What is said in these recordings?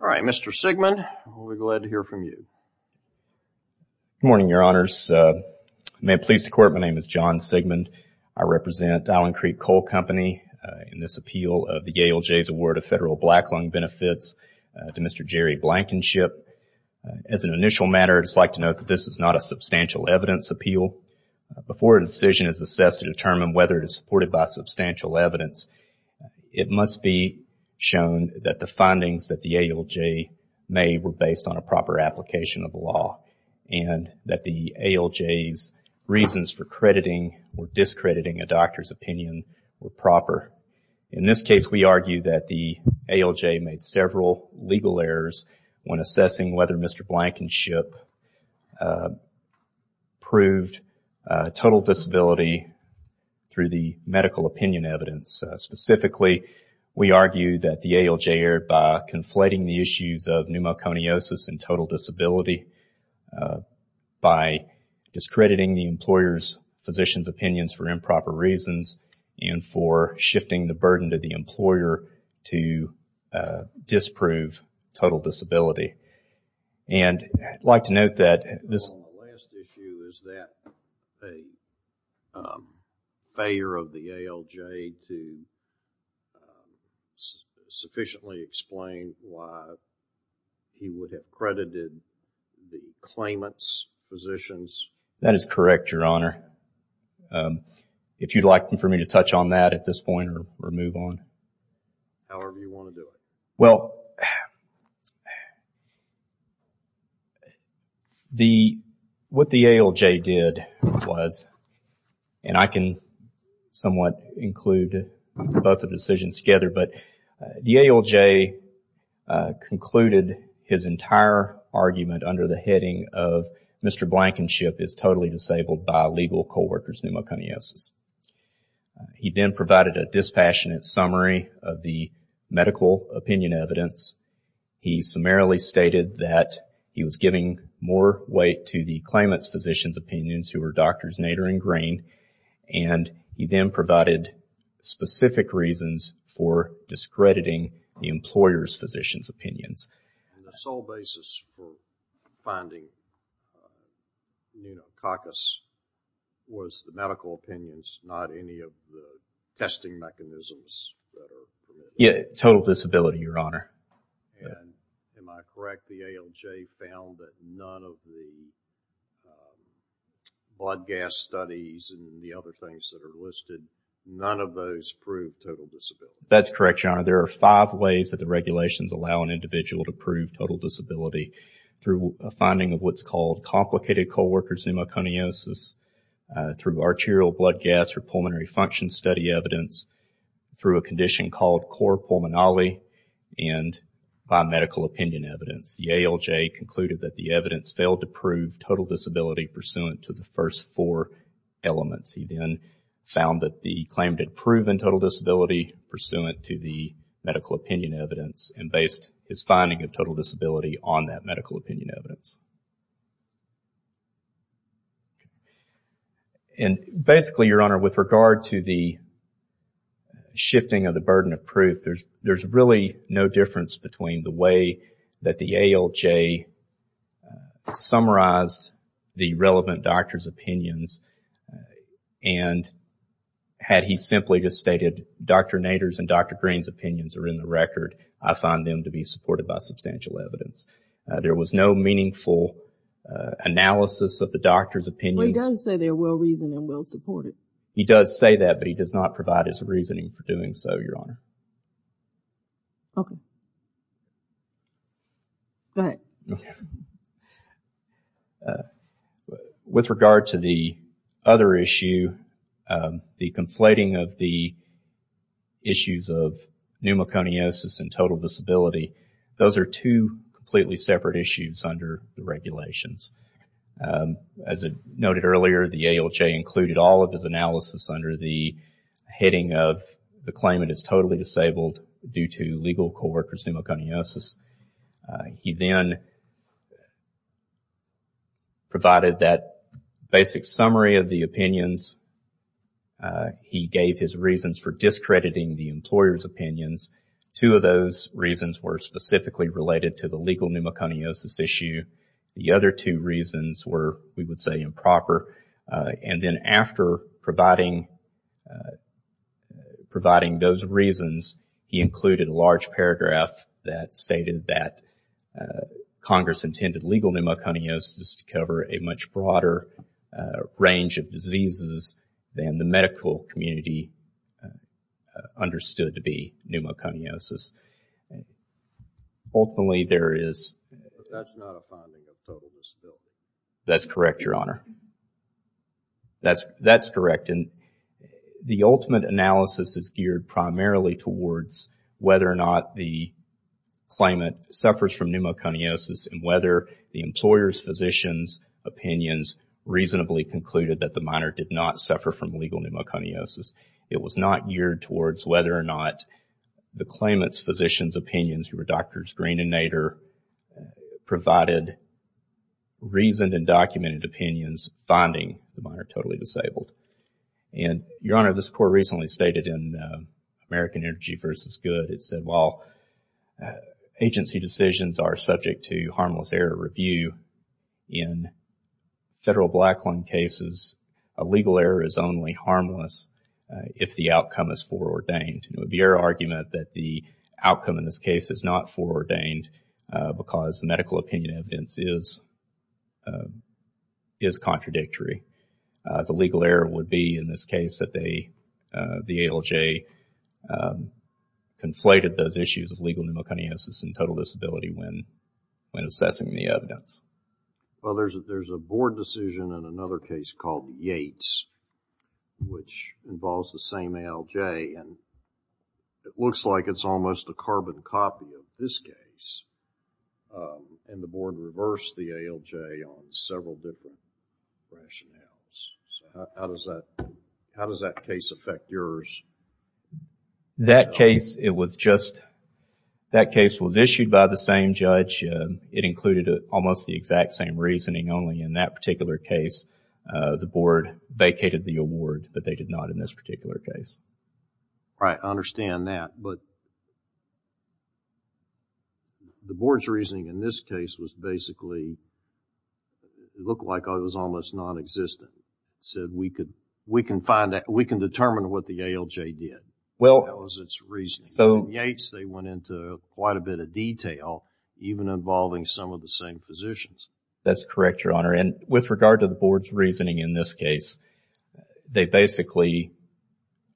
All right, Mr. Sigmund, we're glad to hear from you. Good morning, Your Honors. May it please the Court, my name is John Sigmund. I represent Allen Creek Coal Company in this appeal of the Yale Jays Award of Federal Black Lung Benefits to Mr. Jerry Blankenship. As an initial matter, I'd just like to note that this is not a substantial evidence appeal. Before a decision is assessed to determine whether it is supported by substantial evidence, it must be shown that the findings that the Yale Jay made were based on a proper application of the law and that the Yale Jays' reasons for crediting or discrediting a doctor's opinion were proper. In this case, we argue that the Yale Jay made several legal errors when assessing whether Mr. Blankenship proved total disability through the medical opinion evidence. Specifically, we argue that the Yale Jay, by conflating the issues of pneumoconiosis and total disability, by discrediting the employer's physician's opinions for improper reasons and for shifting the burden to the employer to disprove total disability. And I'd like to note that this... The last issue is that a failure of the Yale Jay to sufficiently explain why he would have credited the claimant's physicians. That is correct, Your Honor. If you'd like for me to touch on that at this point or move on. However you want to do it. Well, what the Yale Jay did was, and I can somewhat include both the decisions together, but the Yale Jay concluded his entire argument under the heading of Mr. Blankenship is totally disabled by legal co-workers' pneumoconiosis. He then provided a dispassionate summary of the medical opinion evidence. He summarily stated that he was giving more weight to the claimant's physicians' opinions, who were Drs. Nader and Green, and he then provided specific reasons for discrediting the employer's physicians' opinions. And the sole basis for finding pneumococcus was the medical opinions, not any of the testing mechanisms that are permitted? Yeah, total disability, Your Honor. And am I correct, the Yale Jay found that none of the blood gas studies and the other things that are listed, none of those prove total disability? That's correct, Your Honor. There are five ways that the regulations allow an individual to prove total disability. Through a finding of what's called complicated co-worker's pneumoconiosis, through arterial blood gas or pulmonary function study evidence, through a condition called cor pulmonale, and by medical opinion evidence. The Yale Jay concluded that the evidence failed to prove total disability pursuant to the first four elements. He then found that the claimant had proven total disability pursuant to the medical opinion evidence and based his finding of total disability on that medical opinion evidence. And basically, Your Honor, with regard to the shifting of the burden of proof, there's really no difference between the way that the Yale Jay summarized the relevant doctor's opinions and had he simply just stated, Dr. Nader's and Dr. Green's opinions are in the record, I find them to be supported by substantial evidence. There was no meaningful analysis of the doctor's opinions. Well, he does say they're well-reasoned and well-supported. He does say that, but he does not provide his reasoning for doing so, Your Honor. Okay. Go ahead. With regard to the other issue, the conflating of the issues of pneumoconiosis and total disability, those are two completely separate issues under the regulations. As noted earlier, the Yale Jay included all of his analysis under the heading of the claimant is totally disabled due to legal co-workers' pneumoconiosis. He then provided that basic summary of the opinions. He gave his reasons for discrediting the employer's opinions. Two of those reasons were specifically related to the legal pneumoconiosis issue. The other two reasons were, we would say, improper. And then after providing those reasons, he included a large paragraph that stated that Congress intended legal pneumoconiosis to cover a much broader range of diseases than the medical community understood to be pneumoconiosis. Ultimately, there is... But that's not a finding of total disability. That's correct, Your Honor. That's correct. The ultimate analysis is geared primarily towards whether or not the claimant suffers from pneumoconiosis and whether the employer's physicians' opinions reasonably concluded that the minor did not suffer from legal pneumoconiosis. It was not geared towards whether or not the claimant's physicians' opinions, who were Drs. Green and Nader, provided reasoned and documented opinions finding the minor totally disabled. And, Your Honor, this Court recently stated in American Energy v. Good, it said, well, agency decisions are subject to harmless error review in federal black line cases. A legal error is only harmless if the outcome is foreordained. It would be our argument that the outcome in this case is not foreordained because medical opinion evidence is contradictory. The legal error would be, in this case, that the ALJ conflated those issues of legal pneumoconiosis and total disability when assessing the evidence. Well, there's a board decision in another case called Yates which involves the same ALJ and it looks like it's almost a carbon copy of this case. And the board reversed the ALJ on several different rationales. How does that case affect yours? That case, it was just, that case was issued by the same judge. It included almost the exact same reasoning, only in that particular case the board vacated the award, but they did not in this particular case. Right, I understand that, but the board's reasoning in this case was basically, it looked like it was almost non-existent. They said, we can find out, we can determine what the ALJ did. That was its reasoning. In Yates, they went into quite a bit of detail, even involving some of the same physicians. That's correct, Your Honor. And with regard to the board's reasoning in this case, they basically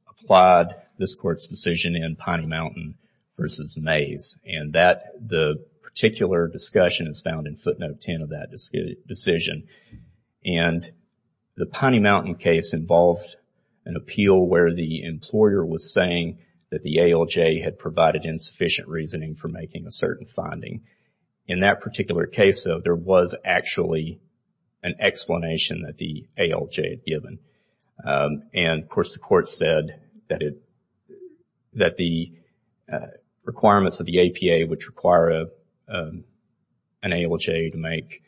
applied this court's decision in Pine Mountain versus Mays. And that, the particular discussion is found in footnote 10 of that decision. And the Piney Mountain case involved an appeal where the employer was saying that the ALJ had provided insufficient reasoning for making a certain finding. In that particular case, though, there was actually an explanation that the ALJ had given. And, of course, the court said that it, that the requirements of the APA, which require an ALJ to make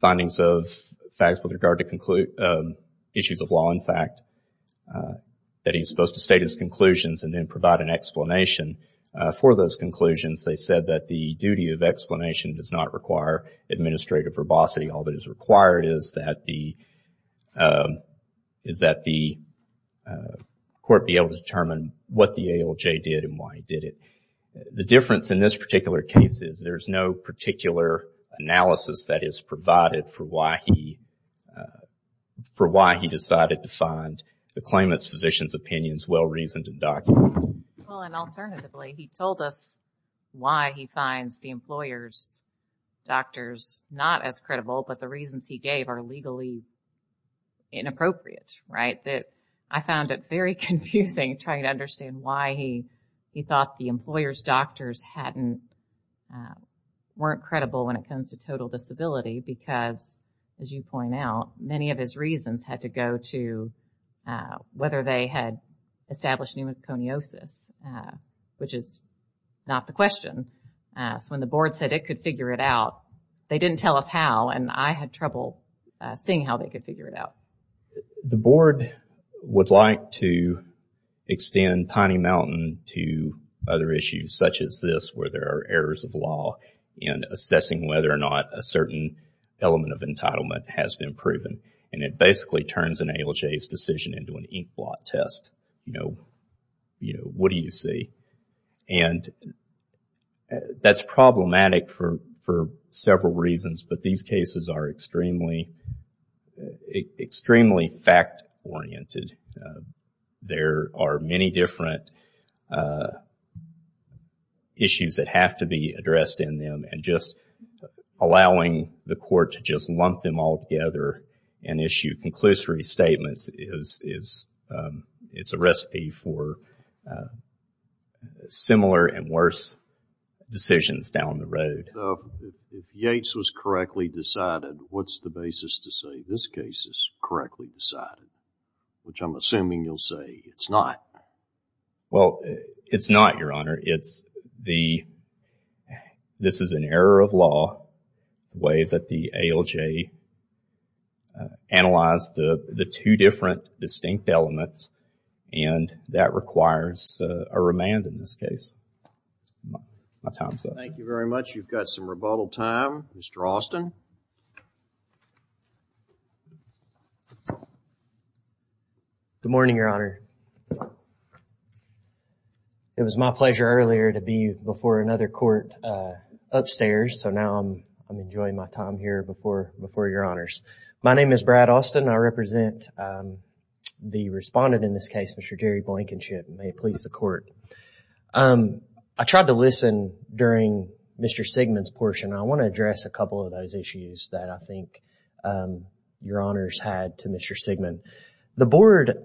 findings of facts with regard to issues of law, in fact, that he's supposed to state his conclusions and then provide an explanation for those conclusions, they said that the duty of explanation does not require administrative verbosity. All that is required is that the court be able to determine what the ALJ did and why he did it. The difference in this particular case is there's no particular analysis that is provided for why he, for why he decided to find the claimant's physician's opinions well-reasoned and documented. Well, and alternatively, he told us why he finds the employer's doctors not as credible, but the reasons he gave are legally inappropriate, right? I found it very confusing trying to understand why he thought the employer's doctors weren't credible when it comes to total disability because, as you point out, many of his reasons had to go to whether they had established pneumoconiosis, which is not the question. So when the board said it could figure it out, they didn't tell us how, and I had trouble seeing how they could figure it out. The board would like to extend Piney Mountain to other issues such as this where there are errors of law in assessing whether or not a certain element of entitlement has been proven, and it basically turns an ALJ's decision into an inkblot test. You know, what do you see? And that's problematic for several reasons, but these cases are extremely fact-oriented. There are many different issues that have to be addressed in them, and just allowing the court to just lump them all together and issue conclusory statements is a recipe for similar and worse decisions down the road. If Yates was correctly decided, what's the basis to say this case is correctly decided, which I'm assuming you'll say it's not. Well, it's not, Your Honor. It's the, this is an error of law, the way that the ALJ analyzed the two different distinct elements, and that requires a remand in this case. My time's up. Thank you very much. You've got some rebuttal time. Mr. Austin. Good morning, Your Honor. It was my pleasure earlier to be before another court upstairs, so now I'm enjoying my time here before Your Honors. My name is Brad Austin. I represent the respondent in this case, Mr. Jerry Blankenship. May it please the Court. I tried to listen during Mr. Sigmund's portion. I want to address a couple of those issues that I think Your Honors had to Mr. Sigmund. The Board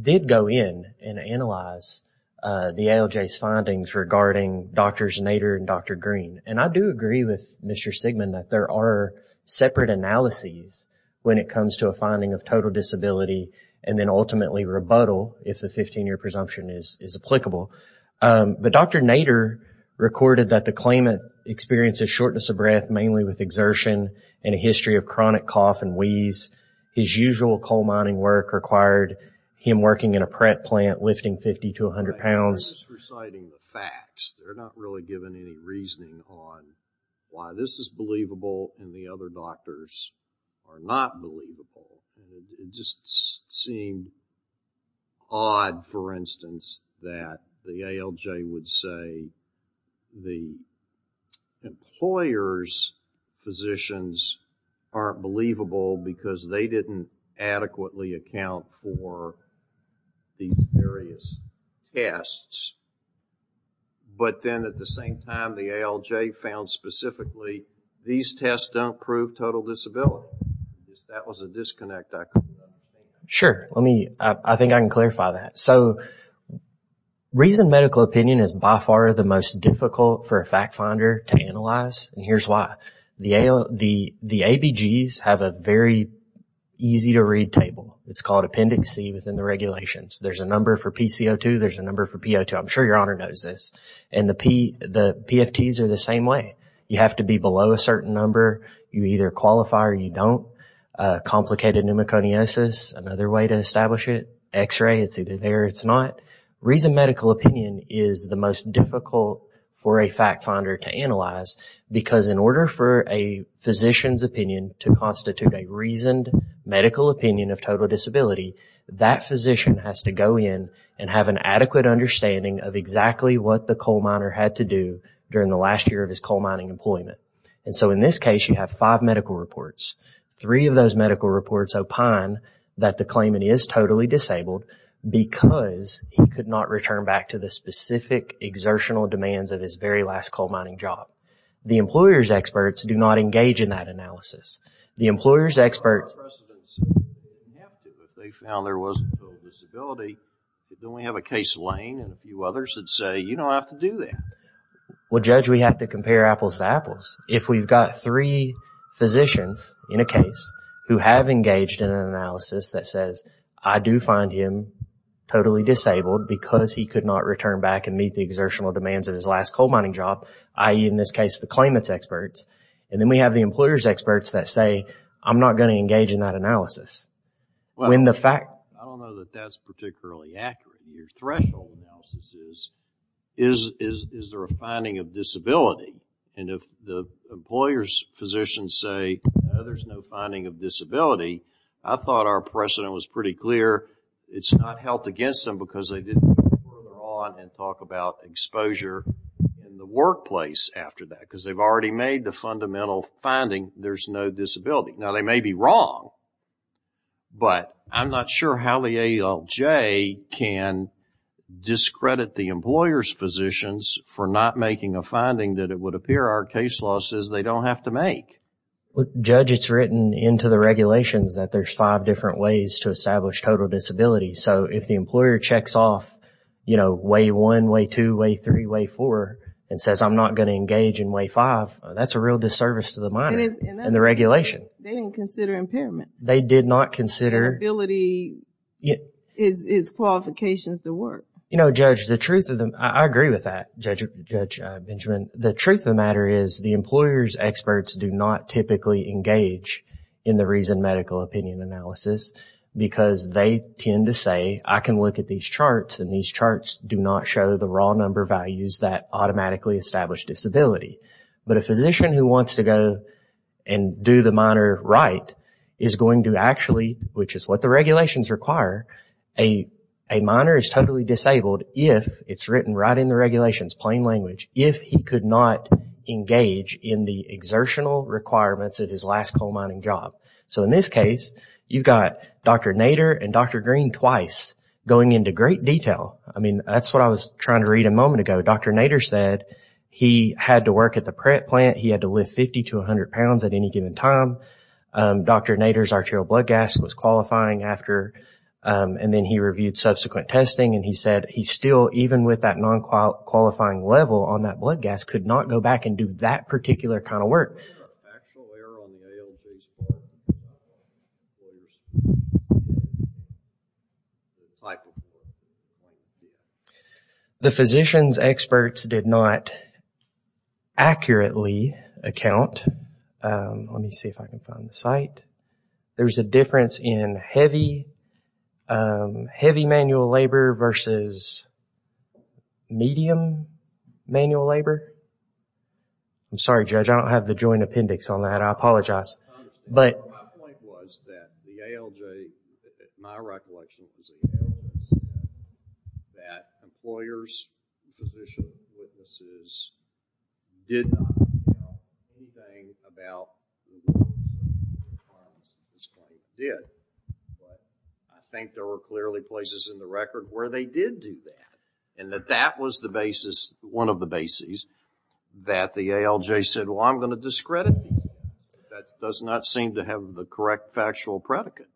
did go in and analyze the ALJ's findings regarding Drs. Nader and Dr. Green, and I do agree with Mr. Sigmund that there are separate analyses when it comes to a finding of total disability and then ultimately rebuttal if the 15-year presumption is applicable. But Dr. Nader recorded that the claimant experienced a shortness of breath mainly with exertion and a history of chronic cough and wheeze. His usual coal mining work required him working in a prep plant, lifting 50 to 100 pounds. They're just reciting the facts. They're not really giving any reasoning on why this is believable and the other doctors are not believable. It just seemed odd, for instance, that the ALJ would say the employer's physicians aren't believable because they didn't adequately account for these various tests, but then at the same time the ALJ found specifically these tests don't prove total disability. That was a disconnect I could make. Sure. I think I can clarify that. So reasoned medical opinion is by far the most difficult for a fact finder to analyze, and here's why. The ABGs have a very easy-to-read table. It's called Appendix C within the regulations. There's a number for PCO2, there's a number for PO2. I'm sure Your Honor knows this. And the PFTs are the same way. You have to be below a certain number. You either qualify or you don't. Complicated pneumoconiosis, another way to establish it. X-ray, it's either there or it's not. Reasoned medical opinion is the most difficult for a fact finder to analyze because in order for a physician's opinion to constitute a reasoned medical opinion of total disability, that physician has to go in and have an adequate understanding of exactly what the coal miner had to do during the last year of his coal mining employment. And so in this case, you have five medical reports. Three of those medical reports opine that the claimant is totally disabled because he could not return back to the specific exertional demands of his very last coal mining job. The employer's experts do not engage in that analysis. The employer's experts... ...they found there was a disability, but then we have a case of Lane and a few others that say, you don't have to do that. Well, Judge, we have to compare apples to apples. If we've got three physicians in a case who have engaged in an analysis that says, I do find him totally disabled because he could not return back and meet the exertional demands of his last coal mining job, i.e., in this case, the claimant's experts, and then we have the employer's experts that say, I'm not going to engage in that analysis. When the fact... I don't know that that's particularly accurate. Your threshold analysis is, is there a finding of disability? And if the employer's physicians say, no, there's no finding of disability, I thought our precedent was pretty clear. It's not held against them because they didn't go further on and talk about exposure in the workplace after that because they've already made the fundamental finding, there's no disability. Now, they may be wrong, but I'm not sure how the ALJ can discredit the employer's physicians for not making a finding that it would appear our case law says they don't have to make. Judge, it's written into the regulations that there's five different ways to establish total disability. So if the employer checks off, you know, way one, way two, way three, way four, and says, I'm not going to engage in way five, that's a real disservice to the miner and the regulation. They didn't consider impairment. They did not consider... Disability is qualifications to work. You know, Judge, the truth of the... I agree with that, Judge Benjamin. The truth of the matter is, the employer's experts do not typically engage in the reasoned medical opinion analysis because they tend to say, I can look at these charts and these charts do not show the raw number values that automatically establish disability. But a physician who wants to go and do the miner right is going to actually, which is what the regulations require, a miner is totally disabled if it's written right in the regulations, plain language, if he could not engage in the exertional requirements of his last coal mining job. So in this case, you've got Dr. Nader and Dr. Green twice going into great detail. I mean, that's what I was trying to read a moment ago. Dr. Nader said he had to work at the prep plant, he had to lift 50 to 100 pounds at any given time. Dr. Nader's arterial blood gas was qualifying after, and then he reviewed subsequent testing, and he said he still, even with that non-qualifying level on that blood gas, could not go back and do that particular kind of work. Is there an actual error on the ALG's part? The physician's experts did not accurately account. Let me see if I can find the site. There's a difference in heavy manual labor versus medium manual labor. I'm sorry, Judge. I don't have the joint appendix on that. I apologize. My point was that the ALG, in my recollection, that employers, physicians, witnesses, did not account for anything about individual claims that this company did. But I think there were clearly places in the record where they did do that, and that that was the basis, one of the bases, that the ALG said, well, I'm going to discredit you. That does not seem to have the correct factual predicate.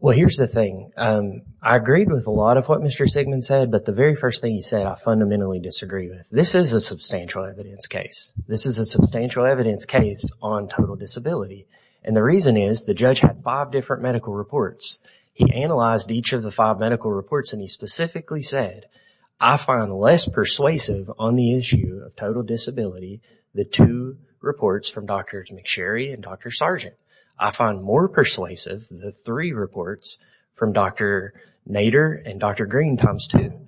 Well, here's the thing. I agreed with a lot of what Mr. Sigmund said, but the very first thing he said I fundamentally disagree with. This is a substantial evidence case. This is a substantial evidence case on total disability, and the reason is the judge had five different medical reports. He analyzed each of the five medical reports, and he specifically said, I find less persuasive on the issue of total disability the two reports from Dr. McSherry and Dr. Sargent. I find more persuasive the three reports from Dr. Nader and Dr. Green times two,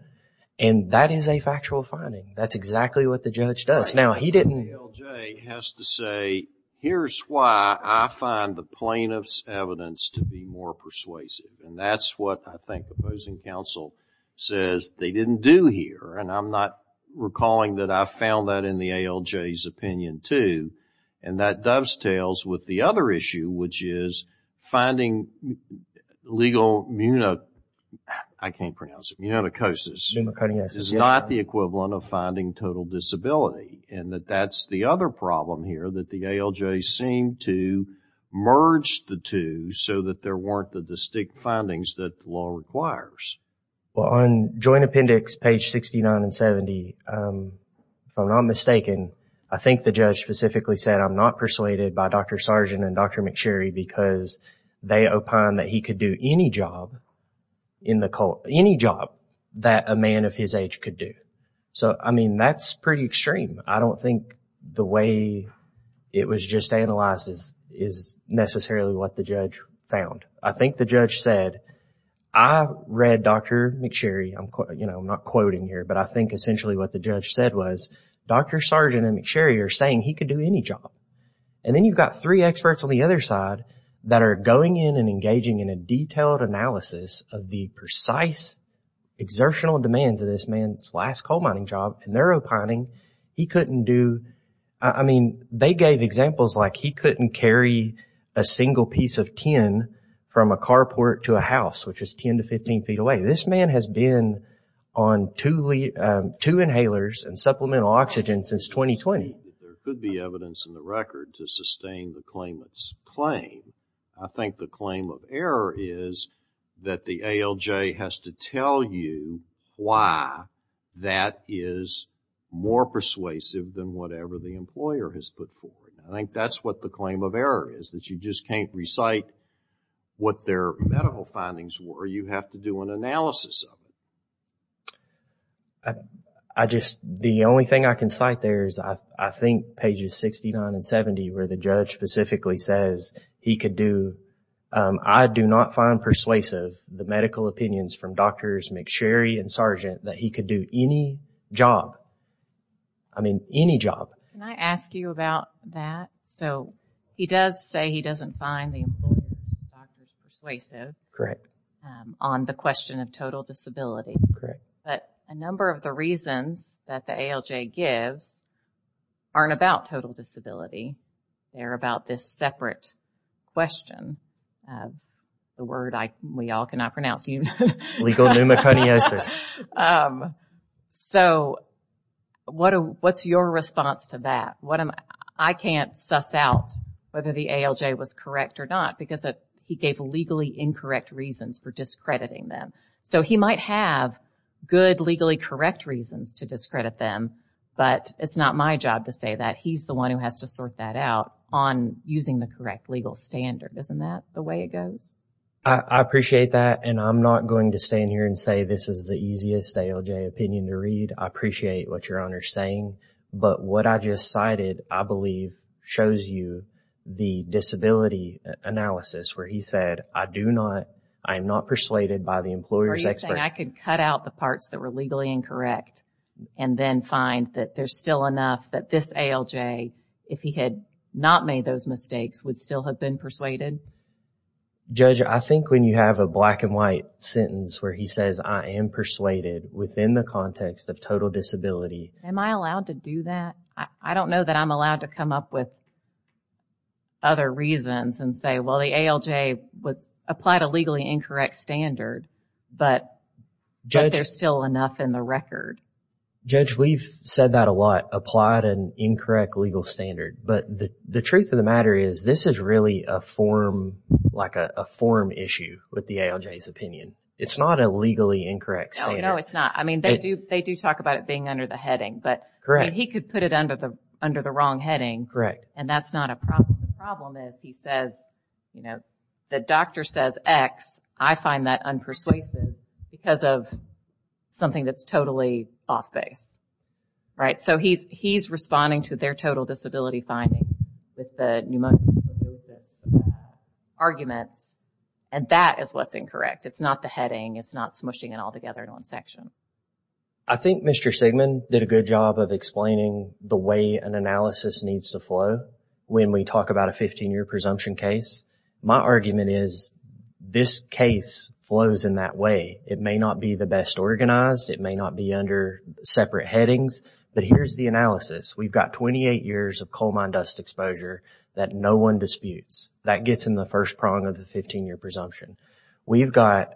and that is a factual finding. That's exactly what the judge does. Now, he didn't... The ALG has to say, here's why I find the plaintiff's evidence to be more persuasive, and that's what I think the opposing counsel says they didn't do here, and I'm not recalling that I found that in the ALJ's opinion too, and that dovetails with the other issue, which is finding legal... I can't pronounce it. It's not the equivalent of finding total disability, and that that's the other problem here, that the ALJ seemed to merge the two so that there weren't the distinct findings that the law requires. Well, on joint appendix page 69 and 70, if I'm not mistaken, I think the judge specifically said, I'm not persuaded by Dr. Sargent and Dr. McSherry because they opine that he could do any job in the court, any job that a man of his age could do. So, I mean, that's pretty extreme. I don't think the way it was just analyzed is necessarily what the judge found. I think the judge said, I read Dr. McSherry. I'm not quoting here, but I think essentially what the judge said was, Dr. Sargent and McSherry are saying he could do any job, and then you've got three experts on the other side that are going in and engaging in a detailed analysis of the precise exertional demands of this man's last coal mining job, and they're opining he couldn't do... I mean, they gave examples like he couldn't carry a single piece of tin from a carport to a house, which is 10 to 15 feet away. This man has been on two inhalers and supplemental oxygen since 2020. There could be evidence in the record to sustain the claimant's claim. I think the claim of error is that the ALJ has to tell you why that is more persuasive than whatever the employer has put forward. I think that's what the claim of error is, that you just can't recite what their medical findings were. You have to do an analysis of them. I just... the only thing I can cite there is I think pages 69 and 70, where the judge specifically says he could do... I do not find persuasive the medical opinions from Drs. McSherry and Sargent that he could do any job. I mean, any job. Can I ask you about that? So he does say he doesn't find the employer's doctors persuasive... ...on the question of total disability. Correct. But a number of the reasons that the ALJ gives aren't about total disability. They're about this separate question. The word we all cannot pronounce. Legal pneumoconiosis. So what's your response to that? I can't suss out whether the ALJ was correct or not because he gave legally incorrect reasons for discrediting them. So he might have good legally correct reasons to discredit them, but it's not my job to say that. He's the one who has to sort that out on using the correct legal standard. Isn't that the way it goes? I appreciate that, and I'm not going to stand here and say this is the easiest ALJ opinion to read. I appreciate what Your Honor's saying, but what I just cited, I believe, shows you the disability analysis where he said, I do not... I am not persuaded by the employer's expert... Are you saying I could cut out the parts that were legally incorrect and then find that there's still enough that this ALJ, if he had not made those mistakes, would still have been persuaded? Judge, I think when you have a black and white sentence where he says, I am persuaded within the context of total disability... Am I allowed to do that? I don't know that I'm allowed to come up with other reasons and say, well, the ALJ applied a legally incorrect standard, but there's still enough in the record. Judge, we've said that a lot, applied an incorrect legal standard, but the truth of the matter is this is really a form... like a form issue with the ALJ's opinion. It's not a legally incorrect standard. No, no, it's not. I mean, they do talk about it being under the heading, but he could put it under the wrong heading, and that's not a problem. The problem is he says, the doctor says X. I find that unpersuasive because of something that's totally off base. Right? So he's responding to their total disability finding with the pneumococcus arguments, and that is what's incorrect. It's not the heading. It's not smooshing it all together in one section. I think Mr. Sigmund did a good job of explaining the way an analysis needs to flow when we talk about a 15-year presumption case. My argument is this case flows in that way. It may not be the best organized. It may not be under separate headings, but here's the analysis. We've got 28 years of coal mine dust exposure that no one disputes. That gets in the first prong of the 15-year presumption. We've got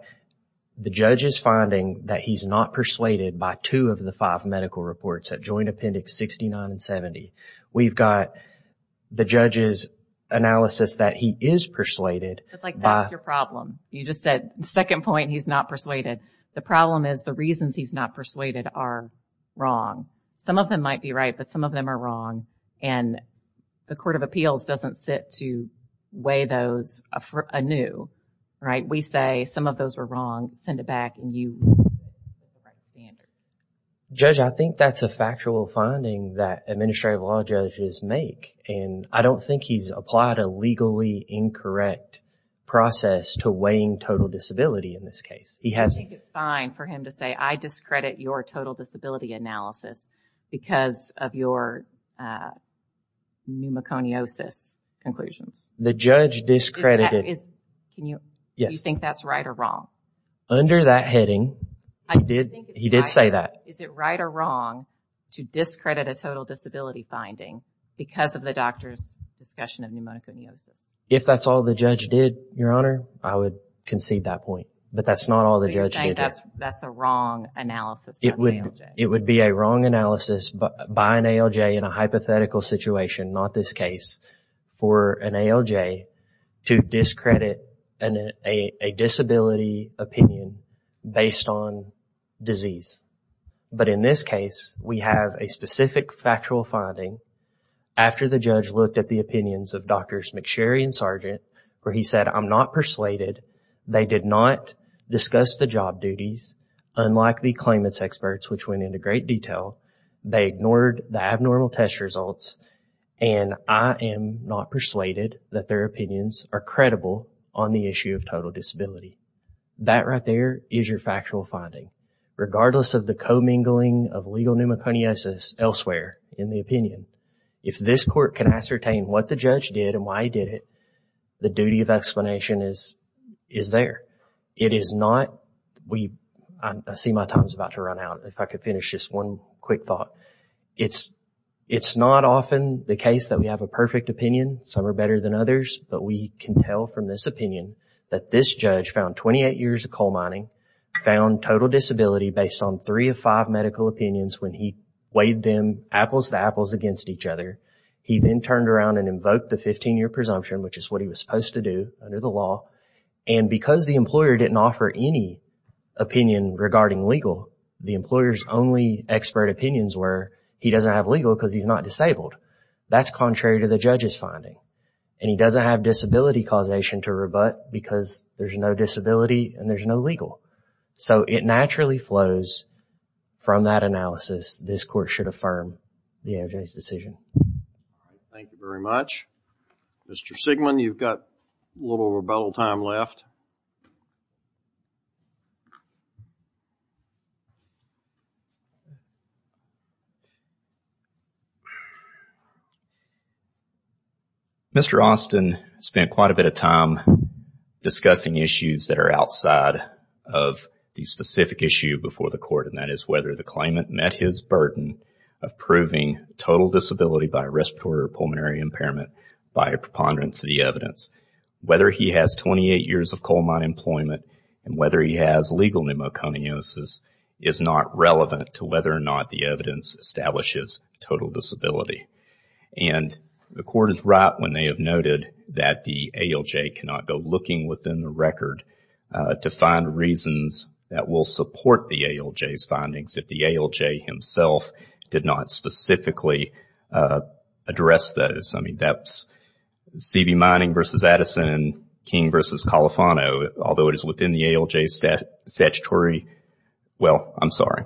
the judge's finding that he's not persuaded by two of the five medical reports at Joint Appendix 69 and 70. We've got the judge's analysis that he is persuaded... But, like, that's your problem. You just said, second point, he's not persuaded. The problem is the reasons he's not persuaded are wrong. Some of them might be right, but some of them are wrong, and the Court of Appeals doesn't sit to weigh those anew, right? We say some of those were wrong. Send it back, and you... Judge, I think that's a factual finding that administrative law judges make, and I don't think he's applied a legally incorrect process to weighing total disability in this case. I think it's fine for him to say, I discredit your total disability analysis because of your pneumoconiosis conclusions. The judge discredited... Do you think that's right or wrong? Under that heading, he did say that. Is it right or wrong to discredit a total disability finding because of the doctor's discussion of pneumoconiosis? If that's all the judge did, Your Honor, I would concede that point. But that's not all the judge did. So you're saying that's a wrong analysis by an ALJ? It would be a wrong analysis by an ALJ in a hypothetical situation, not this case, for an ALJ to discredit a disability opinion based on disease. But in this case, we have a specific factual finding after the judge looked at the opinions of Drs. McSherry and Sargent where he said, I'm not persuaded. They did not discuss the job duties, unlike the claimants' experts, which went into great detail. They ignored the abnormal test results, and I am not persuaded that their opinions are credible on the issue of total disability. That right there is your factual finding, regardless of the commingling of legal pneumoconiosis elsewhere in the opinion. If this court can ascertain what the judge did and why he did it, the duty of explanation is there. It is not... I see my time is about to run out. If I could finish just one quick thought. It's not often the case that we have a perfect opinion. Some are better than others. But we can tell from this opinion that this judge found 28 years of coal mining, found total disability based on three of five medical opinions when he weighed them apples to apples against each other. He then turned around and invoked the 15-year presumption, which is what he was supposed to do under the law. And because the employer didn't offer any opinion regarding legal, the employer's only expert opinions were he doesn't have legal because he's not disabled. That's contrary to the judge's finding. And he doesn't have disability causation to rebut because there's no disability and there's no legal. So it naturally flows from that analysis this court should affirm the AOJ's decision. Thank you very much. Mr. Sigmon, you've got a little rebuttal time left. Mr. Austin spent quite a bit of time discussing issues that are outside of the specific issue before the court, and that is whether the claimant met his burden of proving total disability by respiratory or pulmonary impairment by a preponderance of the evidence. Whether he has 28 years of coal mine employment and whether he has legal pneumoconiosis is not relevant to whether or not the evidence establishes total disability. And the court is right when they have noted that the AOJ cannot go looking within the record to find reasons that will support the AOJ's findings if the AOJ himself did not specifically address those. I mean, that's CB Mining v. Addison and King v. Califano. Although it is within the AOJ's statutory... Well, I'm sorry.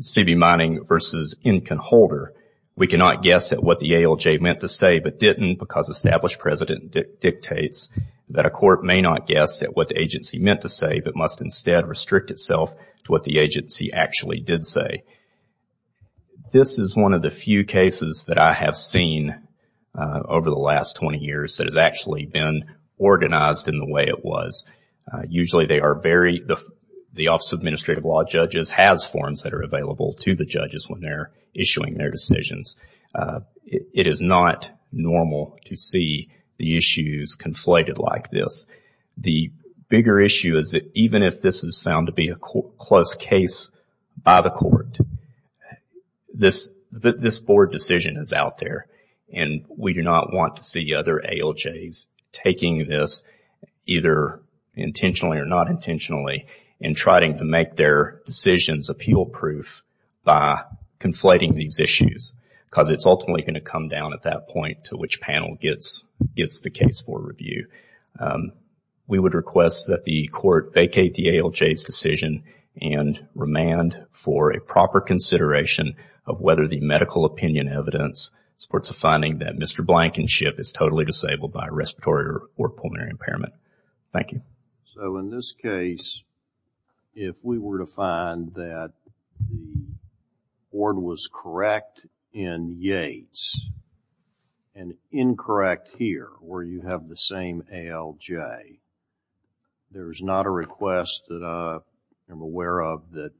CB Mining v. Incan Holder. We cannot guess at what the AOJ meant to say but didn't because established precedent dictates that a court may not guess at what the agency meant to say but must instead restrict itself to what the agency actually did say. This is one of the few cases that I have seen over the last 20 years that has actually been organized in the way it was. Usually they are very... The Office of Administrative Law Judges has forms that are available to the judges when they're issuing their decisions. It is not normal to see the issues conflated like this. The bigger issue is that even if this is found to be a close case by the court, this board decision is out there and we do not want to see other AOJs taking this either intentionally or not intentionally and trying to make their decisions appeal-proof by conflating these issues because it's ultimately going to come down at that point to which panel gets the case for review. We would request that the court vacate the AOJ's decision and remand for a proper consideration of whether the medical opinion evidence supports the finding that Mr. Blankenship is totally disabled by respiratory or pulmonary impairment. Thank you. In this case, if we were to find that the board was correct in Yates and incorrect here where you have the same ALJ, there is not a request that I am aware of that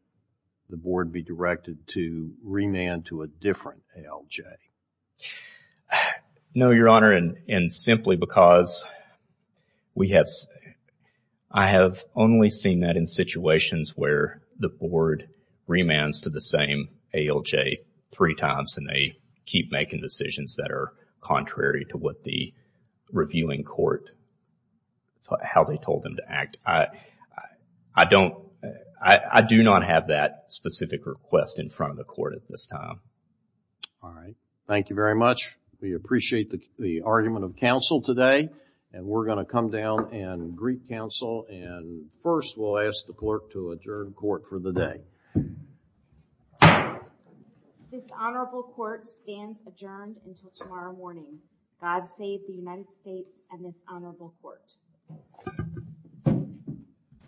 the board be directed to remand to a different ALJ. No, Your Honor, and simply because we have... I have only seen that in situations where the board remands to the same ALJ three times and they keep making decisions that are contrary to what the reviewing court, how they told them to act. I do not have that specific request in front of the court at this time. All right. Thank you very much. We appreciate the argument of counsel today and we're going to come down and greet counsel and first we'll ask the clerk to adjourn court for the day. This honorable court stands adjourned until tomorrow morning. God save the United States and this honorable court.